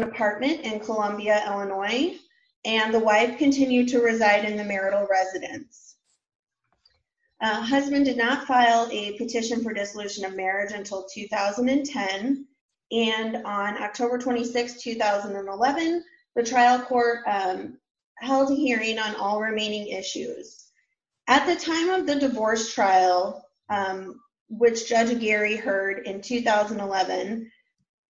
apartment in Columbia, Illinois, and the wife continued to reside in the marital residence. Husband did not file a petition for dissolution of marriage until 2010, and on October 26, 2011, the trial court held a hearing on all remaining issues. At the time of the divorce trial, which Judge Geary heard in 2011,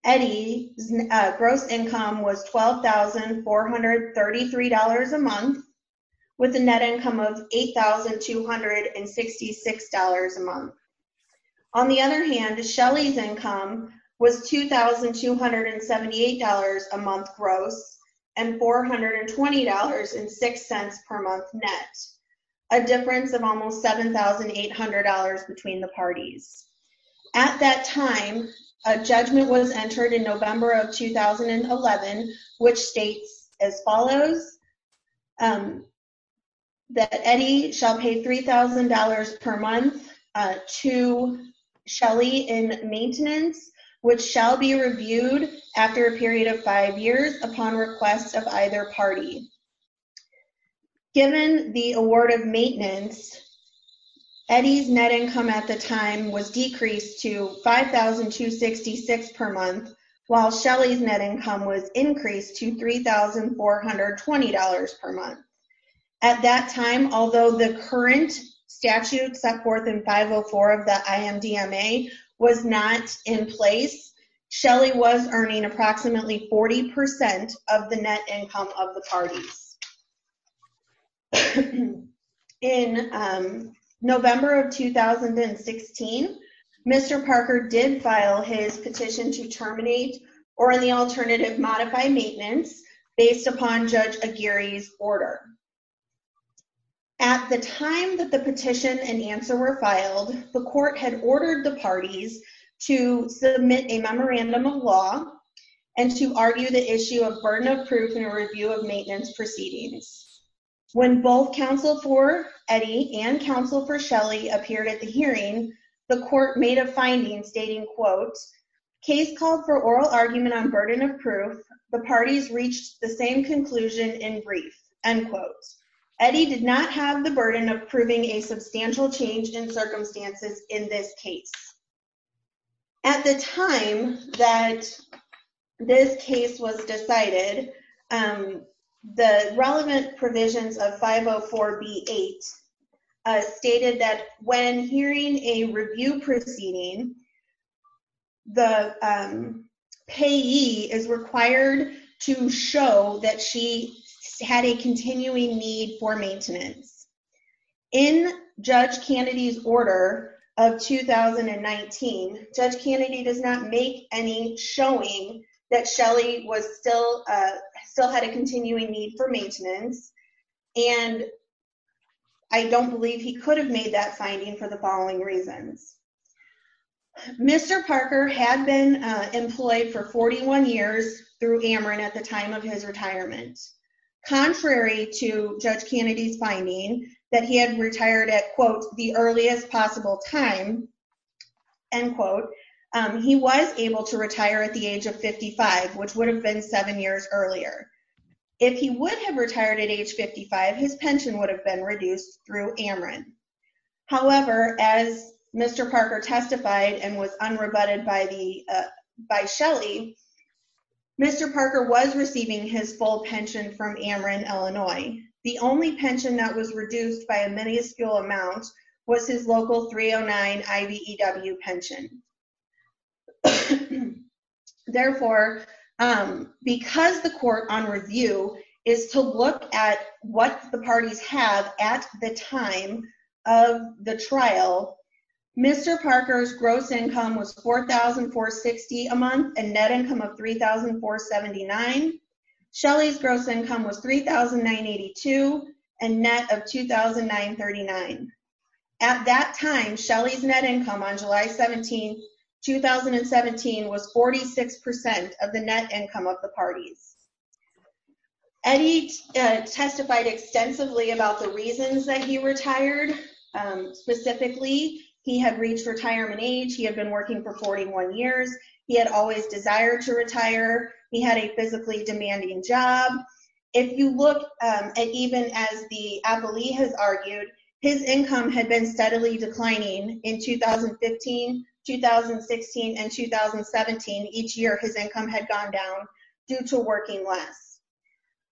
Eddie's gross income was $12,433 a month, with a net income of $8,266 a month. On the other hand, Shelly's income was $2,278 a month gross, and $420.06 per month net. A difference of almost $7,800 between the parties. At that time, a judgment was entered in November of 2011, which states as follows, that Eddie shall pay $3,000 per month to Shelly in maintenance, which shall be reviewed after a period of five years upon request of either party. Given the award of maintenance, Eddie's net income at the time was decreased to $5,266 per month, while Shelly's net income was increased to $3,420 per month. At that time, although the current statute set forth in 504 of the IMDMA was not in place, Shelly was earning approximately 40% of the net income of the parties. In November of 2016, Mr. Parker did file his petition to terminate or, in the alternative, modify maintenance based upon Judge Aguirre's order. At the time that the petition and answer were filed, the court had ordered the parties to submit a memorandum of law and to argue the issue of burden of proof in a review of maintenance proceedings. When both counsel for Eddie and counsel for Shelly appeared at the hearing, the court made a finding stating, quote, case called for oral argument on burden of proof, the parties reached the same conclusion in brief, end quote. Eddie did not have the burden of proving a substantial change in circumstances in this case. At the time that this case was decided, the relevant provisions of 504B8 stated that when hearing a review proceeding, the payee is required to show that she had a continuing need for maintenance. In Judge Kennedy's order of 2019, Judge Kennedy does not make any showing that Shelly still had a continuing need for maintenance, and I don't believe he could have made that finding for the following reasons. Mr. Parker had been employed for 41 years through Ameren at the time of his retirement. Contrary to Judge Kennedy's finding that he had retired at, quote, the earliest possible time, end quote, he was able to retire at the age of 55, which would have been seven years earlier. If he would have retired at age 55, his pension would have been reduced through Ameren. However, as Mr. Parker testified and was unrebutted by Shelly, Mr. Parker was receiving his full pension from Ameren, Illinois. The only pension that was reduced by a minuscule amount was his local 309 IBEW pension. Therefore, because the court on review is to look at what the parties have at the time of the trial, Mr. Parker's gross income was $4,460 a month, a net income of $3,479. Shelly's gross income was $3,982, a net of $2,939. At that time, Shelly's net income on July 17, 2017, was 46% of the net income of the parties. Eddie testified extensively about the reasons that he retired. Specifically, he had reached retirement age. He had been working for 41 years. He had always desired to retire. He had a physically demanding job. If you look at even as the appellee has argued, his income had been steadily declining in 2015, 2016, and 2017. Each year, his income had gone down due to working less.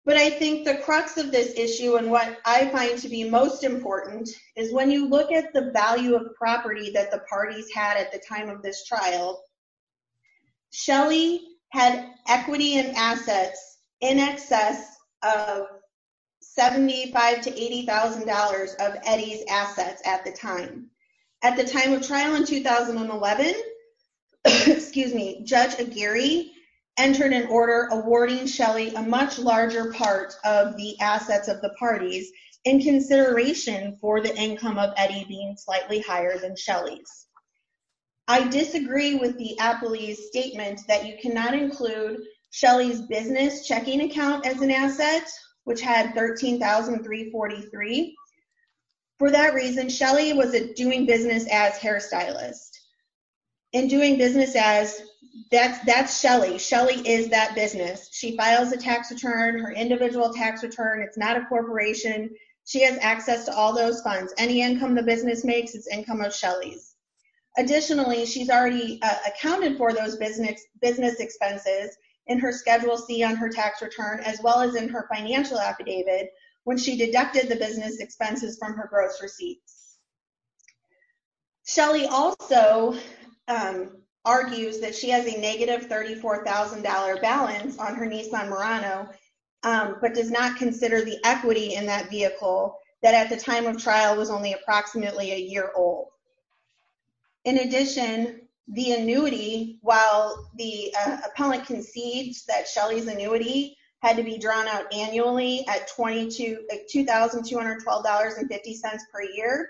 But I think the crux of this issue, and what I find to be most important, is when you look at the value of property that the parties had at the time of this trial, Shelly had equity and assets in excess of $75,000 to $80,000 of Eddie's assets at the time. At the time of trial in 2011, Judge Aguirre entered an order awarding Shelly a much larger part of the assets of the parties in consideration for the income of Eddie being slightly higher than Shelly's. I disagree with the appellee's statement that you cannot include Shelly's business checking account as an asset, which had $13,343. For that reason, Shelly was a doing business as hairstylist. In doing business as, that's Shelly. Shelly is that business. She files a tax return, her individual tax return. It's not a corporation. She has access to all those funds. Any income the business makes is income of Shelly's. Additionally, she's already accounted for those business expenses in her Schedule C on her tax return, as well as in her financial affidavit when she deducted the business expenses from her gross receipts. Shelly also argues that she has a negative $34,000 balance on her Nissan Murano, but does not consider the equity in that vehicle that at the time of trial was only approximately a year old. In addition, the annuity, while the appellant concedes that Shelly's annuity had to be drawn out annually at $2,212.50 per year,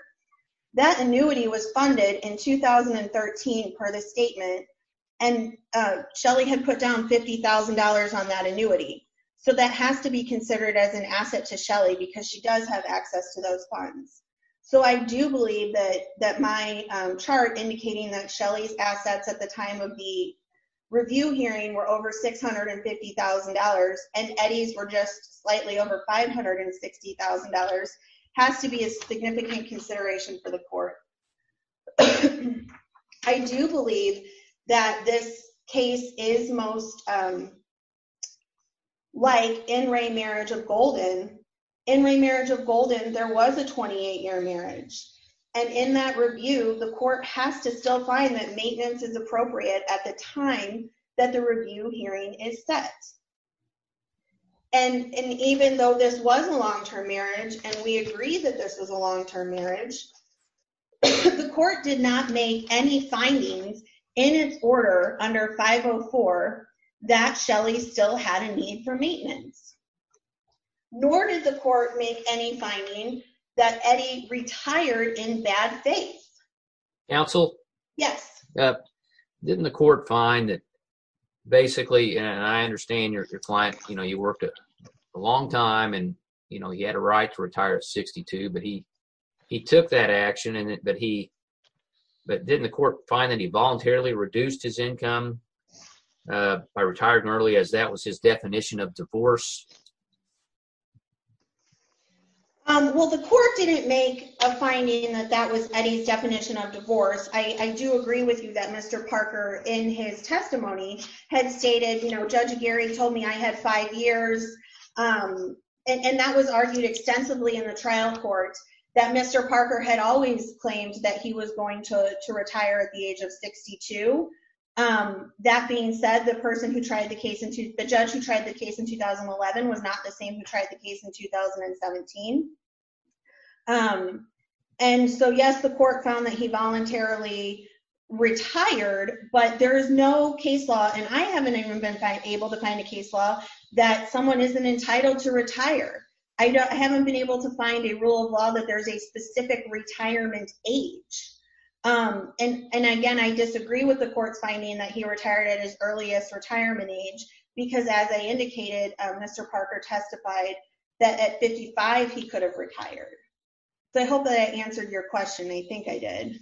that annuity was funded in 2013 per the statement, and Shelly had put down $50,000 on that annuity. That has to be considered as an asset to Shelly because she does have access to those funds. I do believe that my chart indicating that Shelly's assets at the time of the review hearing were over $650,000 and Eddie's were just slightly over $560,000 has to be a significant consideration for the court. I do believe that this case is most like in Ray Marriage of Golden. In Ray Marriage of Golden, there was a 28-year marriage, and in that review, the court has to still find that maintenance is appropriate at the time that the review hearing is set. Even though this was a long-term marriage, and we agree that this was a long-term marriage, the court did not make any findings in its order under 504 that Shelly still had a need for maintenance, nor did the court make any finding that Eddie retired in bad faith. Counsel? Yes. Didn't the court find that basically, and I understand your client, you worked a long time, and he had a right to retire at 62, but he took that action, but didn't the court find that he voluntarily reduced his income by retiring early as that was his definition of divorce? Well, the court didn't make a finding that that was Eddie's definition of divorce. I do agree with you that Mr. Parker, in his testimony, had stated, Judge Gary told me I had five years, and that was argued extensively in the trial court, that Mr. Parker had always claimed that he was going to retire at the age of 62. That being said, the judge who tried the case in 2011 was not the same who tried the case in 2017, and so yes, the court found that he voluntarily retired, but there is no case law, and I haven't even been able to find a case law, that someone isn't entitled to retire. I haven't been able to find a rule of law that there's a specific retirement age, and again, I disagree with the court's finding that he retired at his earliest retirement age, because as I indicated, Mr. Parker testified that at 55, he could have retired. I hope that I answered your question. I think I did.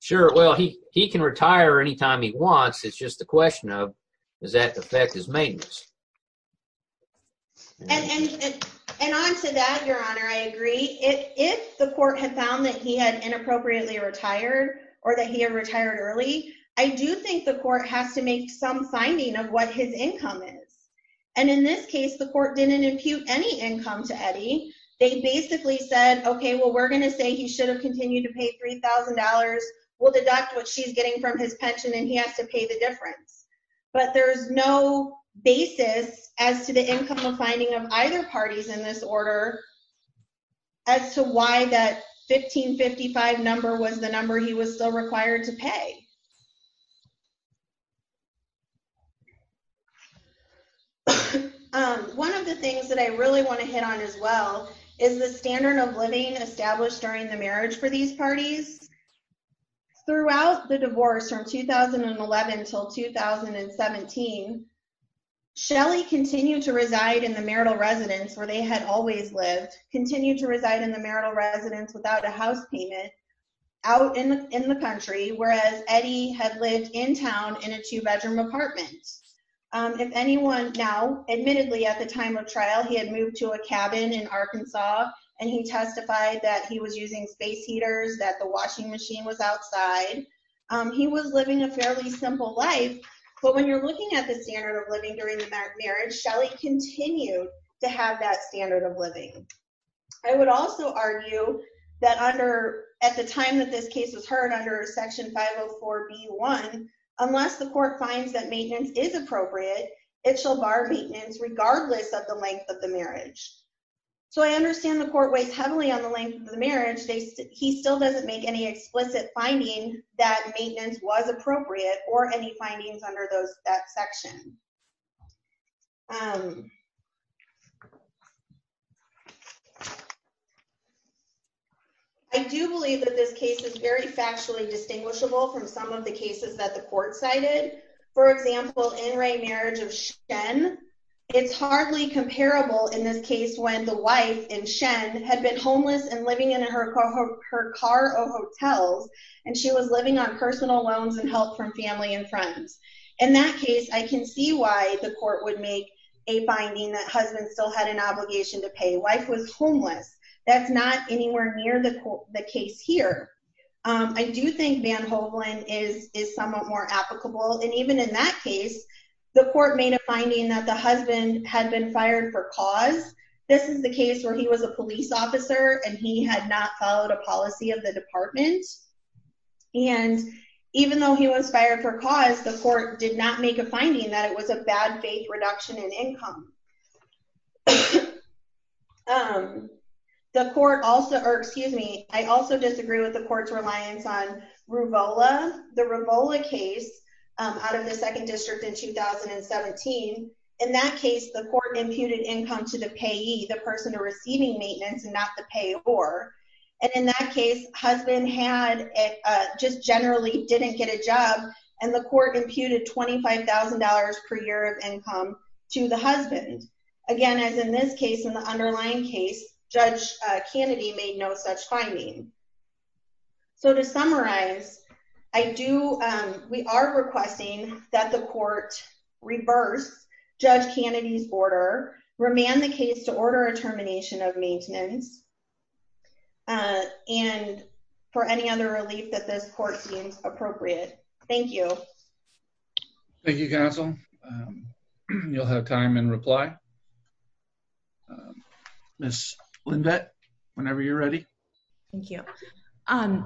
Sure. Well, he can retire anytime he wants. It's just the question of, does that affect his maintenance? And on to that, Your Honor, I agree. If the court had found that he had inappropriately retired, or that he had retired early, I do think the court has to make some finding of what his income is, and in this case, the court didn't impute any income to Eddie. They basically said, okay, well, we're going to say he should have continued to pay $3,000. We'll deduct what she's getting from his pension, and he has to pay the difference, but there's no basis as to the income of finding of either parties in this order, as to why that 1555 number was the number he was still required to pay. One of the things that I really want to hit on, as well, is the standard of living established during the marriage for these parties. Throughout the divorce, from 2011 until 2017, Shelly continued to reside in the marital residence where they had always lived, continued to reside in the marital residence without a house payment, out in the country, whereas Eddie had lived in town in a two-bedroom apartment. If anyone now, admittedly, at the time of trial, he had moved to a cabin in Arkansas, and he testified that he was using space heaters, that the washing machine was outside. He was living a fairly simple life, but when you're looking at the standard of living during that marriage, I would also argue that at the time that this case was heard under Section 504B1, unless the court finds that maintenance is appropriate, it shall bar maintenance regardless of the length of the marriage. I understand the court weighs heavily on the length of the marriage. He still doesn't make any explicit finding that maintenance was appropriate, or any findings under that section. I do believe that this case is very factually distinguishable from some of the cases that the court cited. For example, in Ray marriage of Shen, it's hardly comparable in this case when the wife, in Shen, had been homeless and living in her car or hotels, and she was living on personal loans and help from family and friends. In that case, I can see why the court would make a finding that husband still had an obligation to pay. Wife was homeless. That's not anywhere near the case here. I do think Van Hovland is somewhat more applicable, and even in that case, the court made a finding that the husband had been fired for cause. This is the case where he was a police officer, and he had not followed a policy of the department, and even though he was fired for cause, the court did not make a finding that it was a bad faith reduction in income. I also disagree with the court's reliance on Ruvola. The Ruvola case out of the second district in 2017, in that case, the court imputed income to the payee, the person receiving maintenance and not the payor, and in that case, husband just generally didn't get a job, and the court imputed $25,000 per year of income to the husband. Again, as in this case, in the underlying case, Judge Kennedy made no such finding. So to summarize, we are requesting that the court reverse Judge Kennedy's order, remand the case to order a termination of maintenance, and for any other relief that this court deems appropriate. Thank you. Thank you, Counsel. You'll have time in reply. Ms. Lindveth, whenever you're ready. Thank you.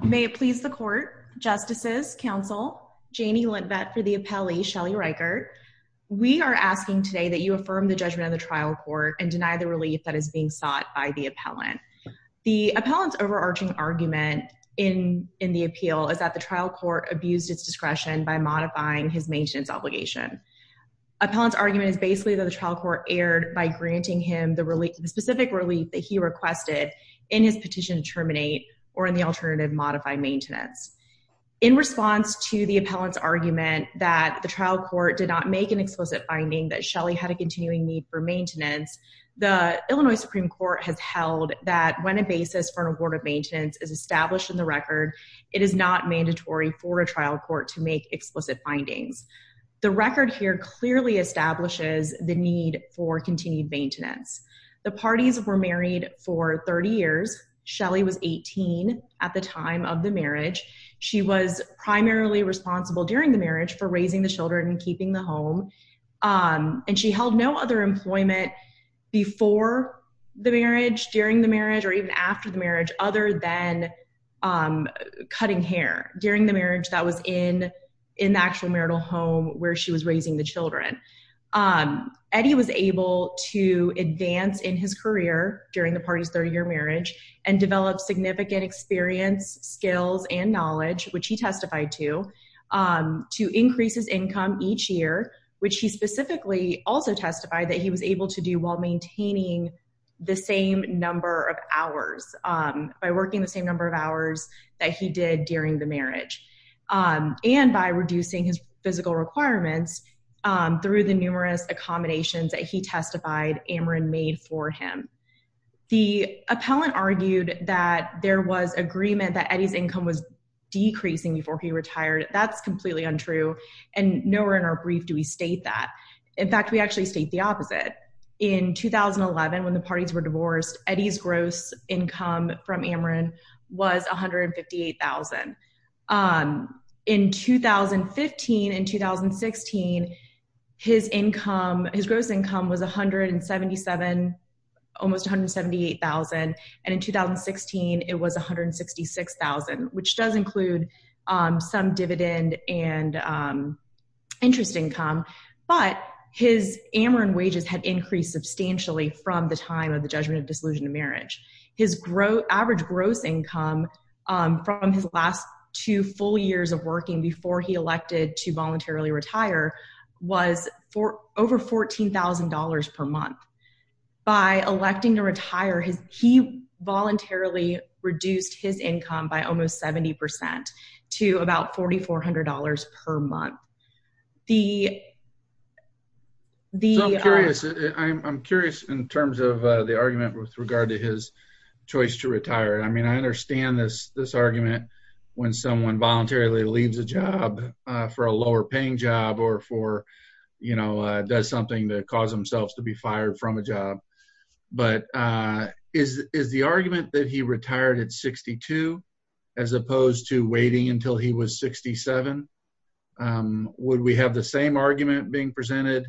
May it please the court, Justices, Counsel, Janie Lindveth for the appellee, Shelley Riker, we are asking today that you affirm the judgment of the trial court and deny the relief that is being sought by the appellant. The appellant's overarching argument in the appeal is that the trial court abused its discretion by modifying his maintenance obligation. Appellant's argument is basically that the trial court erred by granting him the specific relief that he requested in his petition to terminate or in the alternative, modify maintenance. In response to the appellant's argument that the trial court did not make an explicit finding that Shelley had a continuing need for maintenance, the Illinois Supreme Court has held that when a basis for an award of maintenance is established in the record, it is not mandatory for a trial court to make explicit findings. The record here clearly establishes the need for continued maintenance. The parties were married for 30 years. Shelley was 18 at the time of the marriage. She was primarily responsible during the marriage for raising the children and keeping the home. And she held no other employment before the marriage, during the marriage, or even after the marriage other than cutting hair during the marriage that was in the actual marital home where she was raising the children. Eddie was able to advance in his career during the party's 30-year marriage and develop significant experience, skills, and knowledge, which he testified to, to increase his income each year, which he specifically also testified that he was able to do while maintaining the same number of hours, by working the same number of hours that he did during the marriage, and by reducing his physical requirements through the numerous accommodations that he testified Amron made for him. The appellant argued that there was agreement that Eddie's income was decreasing before he retired. That's completely untrue, and nowhere in our brief do we state that. In fact, we actually state the opposite. In 2011, when the parties were divorced, Eddie's gross income from Amron was $158,000. In 2015 and 2016, his gross income was $177,000, almost $178,000. And in 2016, it was $166,000, which does include some dividend and interest income. But his Amron wages had increased substantially from the time of the judgment of disillusioned marriage. His average gross income from his last two full years of working before he elected to voluntarily retire was over $14,000 per month. By electing to retire, he voluntarily reduced his income by almost 70% to about $4,400 per month. So I'm curious in terms of the argument with regard to his choice to retire. I mean, I understand this argument when someone voluntarily leaves a job for a lower-paying job or does something to cause themselves to be fired from a job. But is the argument that he retired at 62 as opposed to waiting until he was 67? Would we have the same argument being presented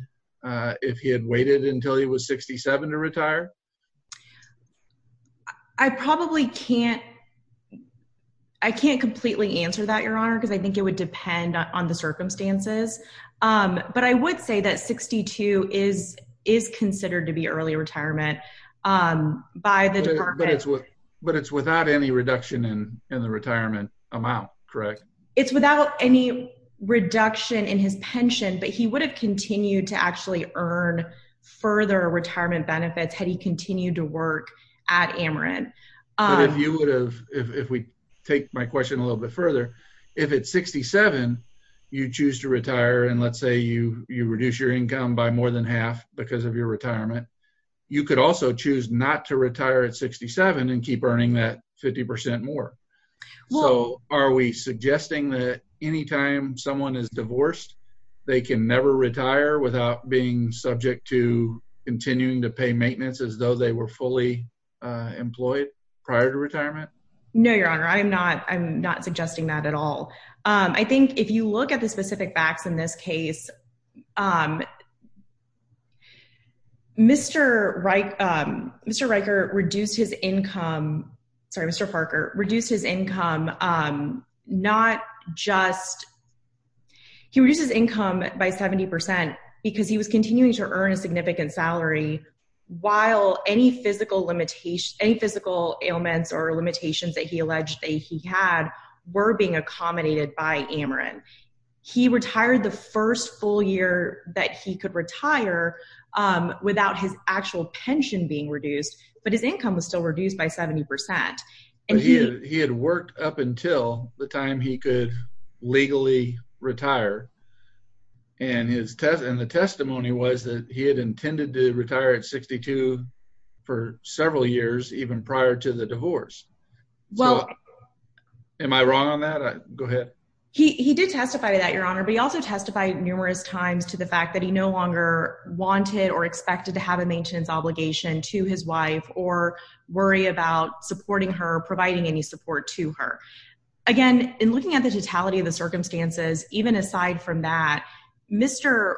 if he had waited until he was 67 to retire? I probably can't completely answer that, Your Honor, because I think it would depend on the circumstances. But I would say that 62 is considered to be early retirement by the department. But it's without any reduction in the retirement amount, correct? It's without any reduction in his pension, but he would have continued to actually earn further retirement benefits had he continued to work at Amron. But if we take my question a little bit further, if at 67 you choose to retire, and let's say you reduce your income by more than half because of your retirement, you could also choose not to retire at 67 and keep earning that 50% more. So are we suggesting that anytime someone is divorced, they can never retire without being subject to continuing to pay maintenance as though they were fully employed prior to retirement? No, Your Honor, I'm not suggesting that at all. I think if you look at the specific facts in this case, Mr. Riker reduced his income, sorry, Mr. Parker reduced his income, not just, he reduces income by 70% because he was continuing to earn a significant salary while any physical limitations, any physical ailments or limitations that he alleged that he had were being accommodated by Amron. He retired the first full year that he could retire without his actual pension being reduced, but his income was still reduced by 70%. He had worked up until the time he could legally retire. And the testimony was that he had intended to retire at 62 for several years even prior to the divorce. Am I wrong on that? Go ahead. He did testify to that, Your Honor, but he also testified numerous times to the fact that he no longer wanted or expected to have a maintenance obligation to his wife or worry about supporting her, providing any support to her. Again, in looking at the totality of the circumstances, even aside from that, Mr.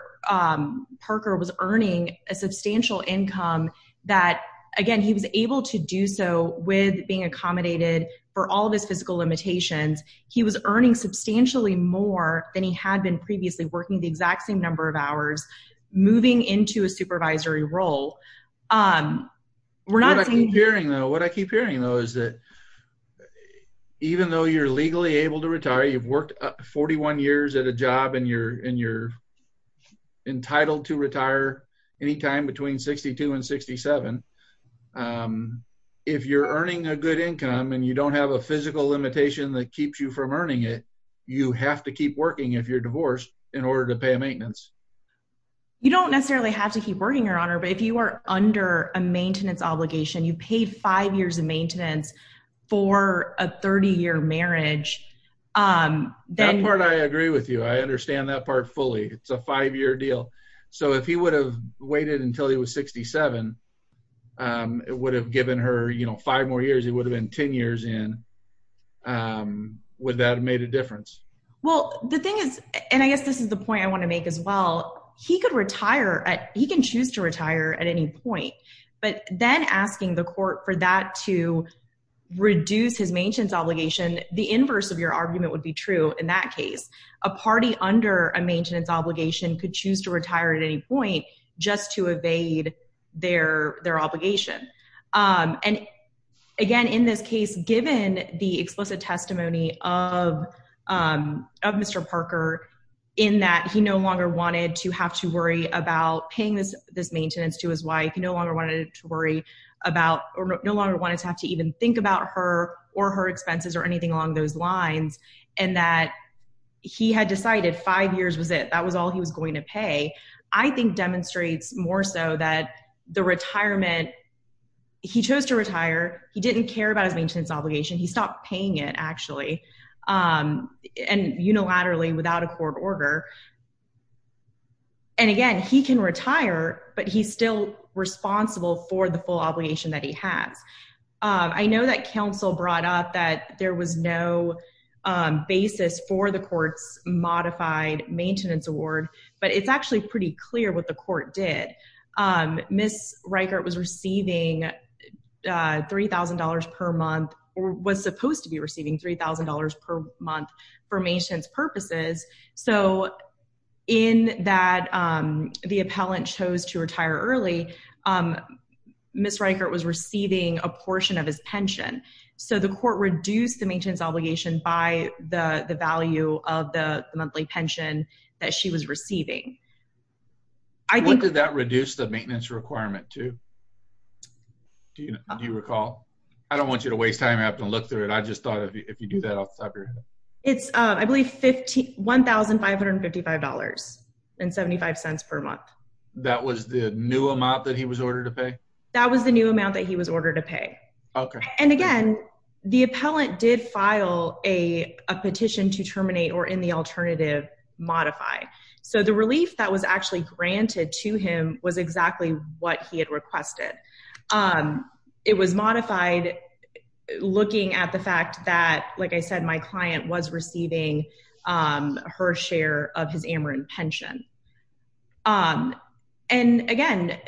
Parker was earning a substantial income that, again, he was able to do so with being accommodated for all of his physical limitations. He was earning substantially more than he had been previously, working the exact same number of hours, moving into a supervisory role. What I keep hearing, though, is that even though you're legally able to retire, you've worked 41 years at a job and you're entitled to retire any time between 62 and 67, if you're earning a good income and you don't have a physical limitation that keeps you from earning it, you have to keep working if you're divorced in order to pay a maintenance. You don't necessarily have to keep working, Your Honor, but if you are under a maintenance obligation, you paid five years of maintenance for a 30-year marriage. That part I agree with you. I understand that part fully. It's a five-year deal. If he would have waited until he was 67, it would have given her five more years. He would have been 10 years in. Would that have made a difference? Well, the thing is, and I guess this is the point I want to make as well, he can choose to retire at any point, but then asking the court for that to reduce his maintenance obligation, the inverse of your argument would be true in that case. A party under a maintenance obligation could choose to retire at any point just to evade their obligation. Again, in this case, given the explicit testimony of Mr. Parker, in that he no longer wanted to have to worry about paying this maintenance to his wife, no longer wanted to have to even think about her or her expenses or anything along those lines, and that he had decided five years was it. That was all he was going to pay, I think demonstrates more so that the retirement, he chose to retire. He didn't care about his maintenance obligation. He stopped paying it, actually, and unilaterally without a court order. And again, he can retire, but he's still responsible for the full obligation that he has. I know that counsel brought up that there was no basis for the court's modified maintenance award, but it's actually pretty clear what the court did. Ms. Reichert was receiving $3,000 per month or was supposed to be receiving $3,000 per month for maintenance purposes. So in that the appellant chose to retire early, Ms. Reichert was receiving a portion of his pension. So the court reduced the maintenance obligation by the value of the monthly pension that she was receiving. What did that reduce the maintenance requirement to? Do you recall? I don't want you to waste time having to look through it. I just thought if you do that, I'll slap your head. It's, I believe, $1,555.75 per month. That was the new amount that he was ordered to pay? Okay. And again, the appellant did file a petition to terminate or in the alternative modify. So the relief that was actually granted to him was exactly what he had requested. It was modified looking at the fact that, like I said, my client was receiving her share of his Ameren pension. And again,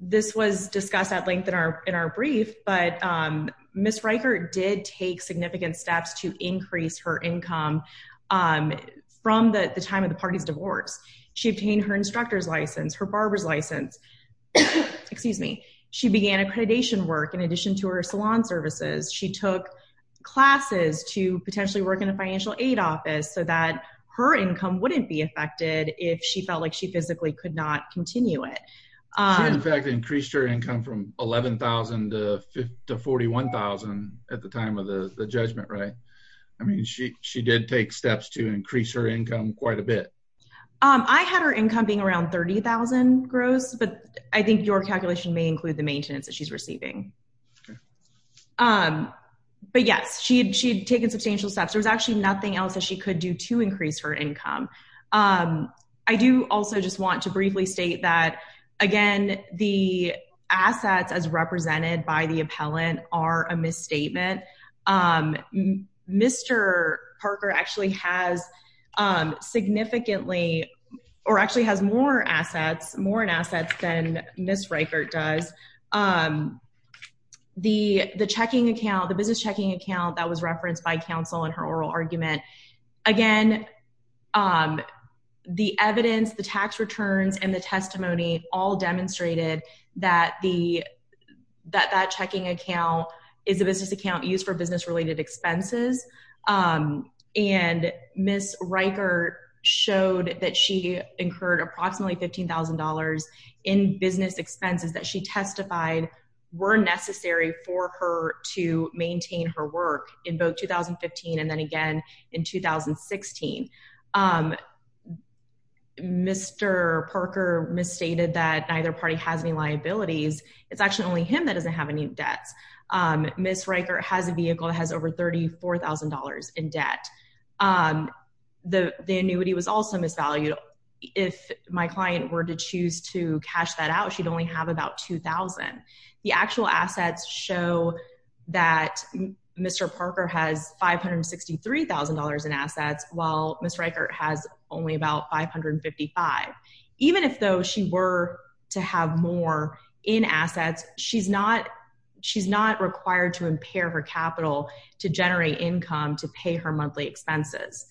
this was discussed at length in our brief, but Ms. Reichert did take significant steps to increase her income from the time of the party's divorce. She obtained her instructor's license, her barber's license. Excuse me. She began accreditation work in addition to her salon services. She took classes to potentially work in a financial aid office so that her income wouldn't be affected if she felt like she physically could not continue it. She, in fact, increased her income from $11,000 to $41,000 at the time of the judgment, right? I mean, she did take steps to increase her income quite a bit. I had her income being around $30,000 gross, but I think your calculation may include the maintenance that she's receiving. But yes, she had taken substantial steps. There was actually nothing else that she could do to increase her income. I do also just want to briefly state that, again, the assets as represented by the appellant are a misstatement. Mr. Parker actually has significantly or actually has more assets, more in assets than Ms. Reichert does. The checking account, the business checking account that was referenced by counsel in her oral argument, again, the evidence, the tax returns, and the testimony all demonstrated that that checking account is a business account used for business-related expenses. And Ms. Reichert showed that she incurred approximately $15,000 in business expenses that she testified were necessary for her to maintain her work in both 2015 and then again in 2016. Mr. Parker misstated that neither party has any liabilities. It's actually only him that doesn't have any debts. Ms. Reichert has a vehicle that has over $34,000 in debt. The annuity was also misvalued. If my client were to choose to cash that out, she'd only have about $2,000. The actual assets show that Mr. Parker has $563,000 in assets while Ms. Reichert has only about $555,000. Even if, though, she were to have more in assets, she's not required to impair her capital to generate income to pay her monthly expenses.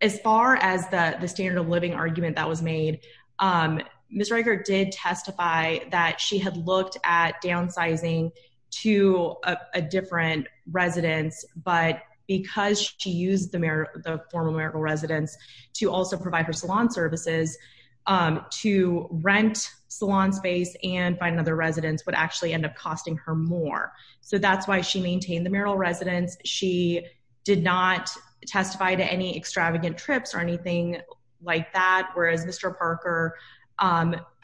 As far as the standard of living argument that was made, Ms. Reichert did testify that she had looked at downsizing to a different residence. But because she used the former Marigold residence to also provide her salon services, to rent salon space and find another residence would actually end up costing her more. So that's why she maintained the Marigold residence. She did not testify to any extravagant trips or anything like that, whereas Mr. Parker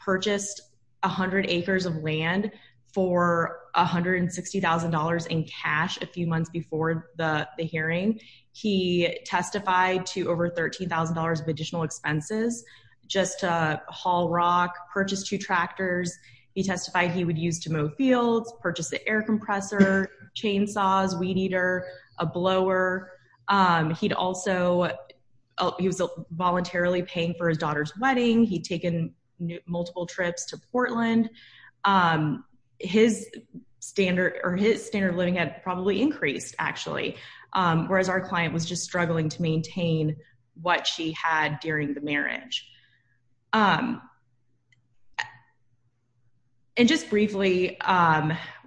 purchased 100 acres of land for $160,000 in cash a few months before the hearing. He testified to over $13,000 of additional expenses just to haul rock, purchase two tractors. He testified he would use to mow fields, purchase an air compressor, chainsaws, weed eater, a blower. He was voluntarily paying for his daughter's wedding. He'd taken multiple trips to Portland. His standard of living had probably increased, actually, whereas our client was just struggling to maintain what she had during the marriage. And just briefly,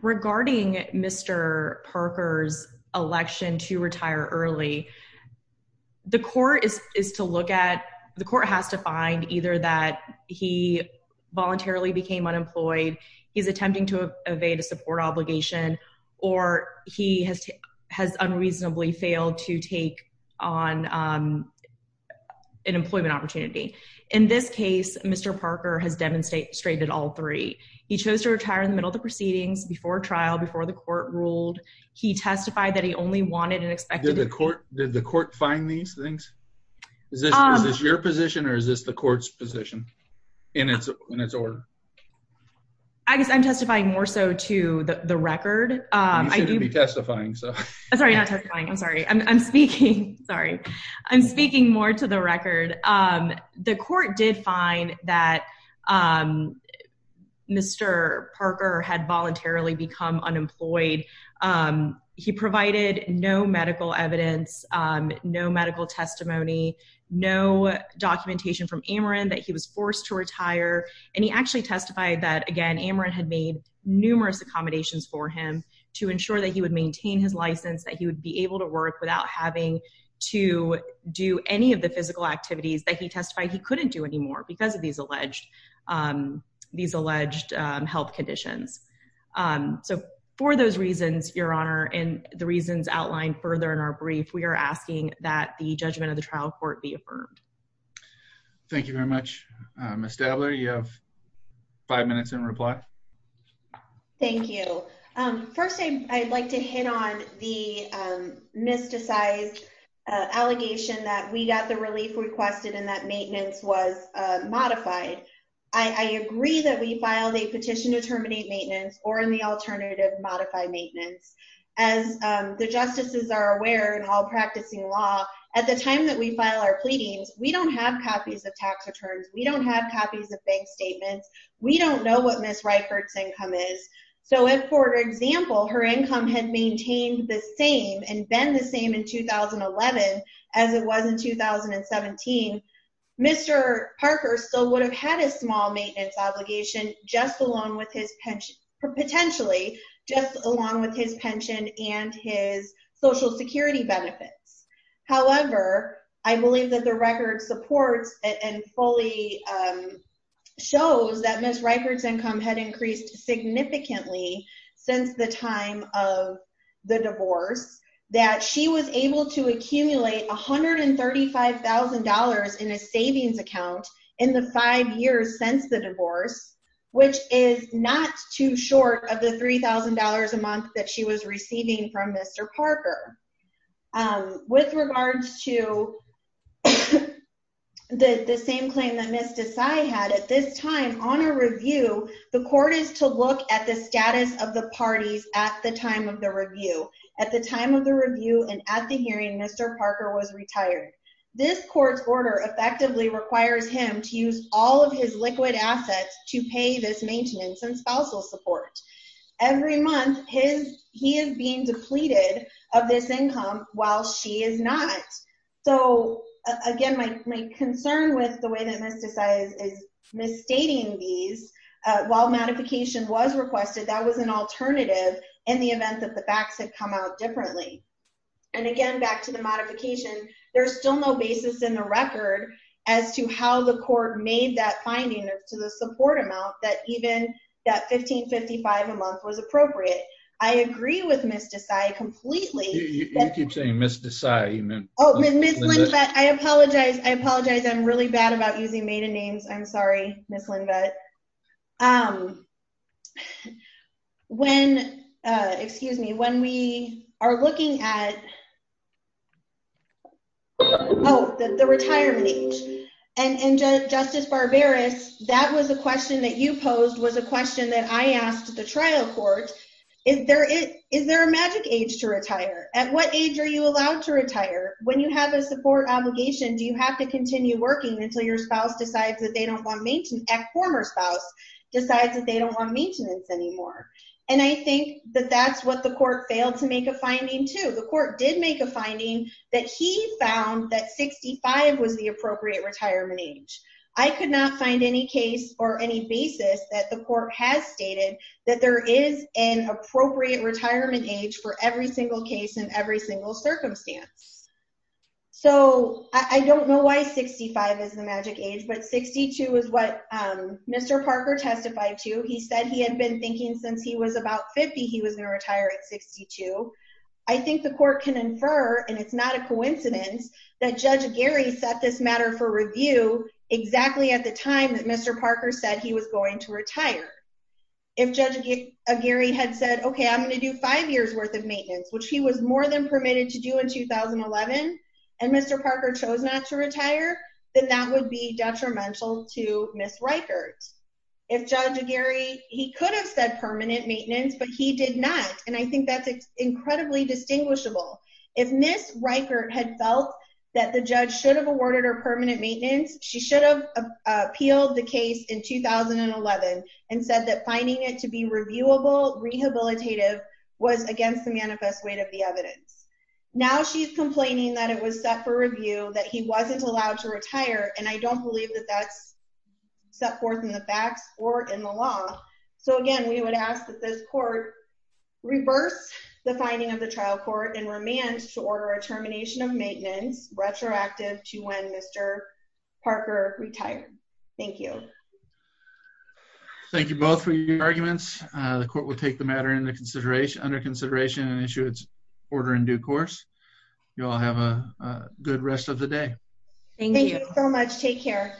regarding Mr. Parker's election to retire early, the court has to find either that he voluntarily became unemployed, he's attempting to evade a support obligation, or he has unreasonably failed to take on an employment opportunity. In this case, Mr. Parker has demonstrated all three. He chose to retire in the middle of the proceedings, before trial, before the court ruled. He testified that he only wanted and expected— Did the court find these things? Is this your position or is this the court's position in its order? I guess I'm testifying more so to the record. You seem to be testifying, so— Sorry, not testifying. I'm sorry. I'm speaking—sorry. I'm speaking more to the record. The court did find that Mr. Parker had voluntarily become unemployed. He provided no medical evidence, no medical testimony, no documentation from Ameren that he was forced to retire. And he actually testified that, again, Ameren had made numerous accommodations for him to ensure that he would maintain his license, that he would be able to work without having to do any of the physical activities that he testified he couldn't do anymore because of these alleged health conditions. So, for those reasons, Your Honor, and the reasons outlined further in our brief, we are asking that the judgment of the trial court be affirmed. Thank you very much. Ms. Stabler, you have five minutes in reply. Thank you. First, I'd like to hit on the mysticized allegation that we got the relief requested and that maintenance was modified. I agree that we filed a petition to terminate maintenance or, in the alternative, modify maintenance. As the justices are aware in all practicing law, at the time that we file our pleadings, we don't have copies of tax returns. We don't have copies of bank statements. We don't know what Ms. Reichert's income is. So, if, for example, her income had maintained the same and been the same in 2011 as it was in 2017, Mr. Parker still would have had a small maintenance obligation, potentially, just along with his pension and his Social Security benefits. However, I believe that the record supports and fully shows that Ms. Reichert's income had increased significantly since the time of the divorce, that she was able to accumulate $135,000 in a savings account in the five years since the divorce, which is not too short of the $3,000 a month that she was receiving from Mr. Parker. With regards to the same claim that Ms. Desai had, at this time, on a review, the court is to look at the status of the parties at the time of the review. At the time of the review and at the hearing, Mr. Parker was retired. This court's order effectively requires him to use all of his liquid assets to pay this maintenance and spousal support. Every month, he is being depleted of this income while she is not. So, again, my concern with the way that Ms. Desai is misstating these, while modification was requested, that was an alternative in the event that the backs had come out differently. And, again, back to the modification, there's still no basis in the record as to how the court made that finding to the support amount that even that $1,555 a month was appropriate. I agree with Ms. Desai completely. You keep saying Ms. Desai. I apologize. I apologize. I'm really bad about using maiden names. I'm sorry, Ms. Lindveth. When – excuse me. When we are looking at – oh, the retirement age. And, Justice Barberis, that was a question that you posed was a question that I asked the trial court. Is there a magic age to retire? At what age are you allowed to retire? When you have a support obligation, do you have to continue working until your spouse decides that they don't want – former spouse decides that they don't want maintenance anymore? And I think that that's what the court failed to make a finding to. The court did make a finding that he found that 65 was the appropriate retirement age. I could not find any case or any basis that the court has stated that there is an appropriate retirement age for every single case in every single circumstance. So, I don't know why 65 is the magic age, but 62 is what Mr. Parker testified to. He said he had been thinking since he was about 50 he was going to retire at 62. I think the court can infer, and it's not a coincidence, that Judge Aguirre set this matter for review exactly at the time that Mr. Parker said he was going to retire. If Judge Aguirre had said, okay, I'm going to do five years' worth of maintenance, which he was more than permitted to do in 2011, and Mr. Parker chose not to retire, then that would be detrimental to Ms. Reichert. If Judge Aguirre, he could have said permanent maintenance, but he did not, and I think that's incredibly distinguishable. If Ms. Reichert had felt that the judge should have awarded her permanent maintenance, she should have appealed the case in 2011 and said that finding it to be reviewable, rehabilitative, was against the manifest weight of the evidence. Now she's complaining that it was set for review, that he wasn't allowed to retire, and I don't believe that that's set forth in the facts or in the law. So, again, we would ask that this court reverse the finding of the trial court and remand to order a termination of maintenance retroactive to when Mr. Parker retired. Thank you. Thank you both for your arguments. The court will take the matter under consideration and issue its order in due course. You all have a good rest of the day. Thank you so much. Take care.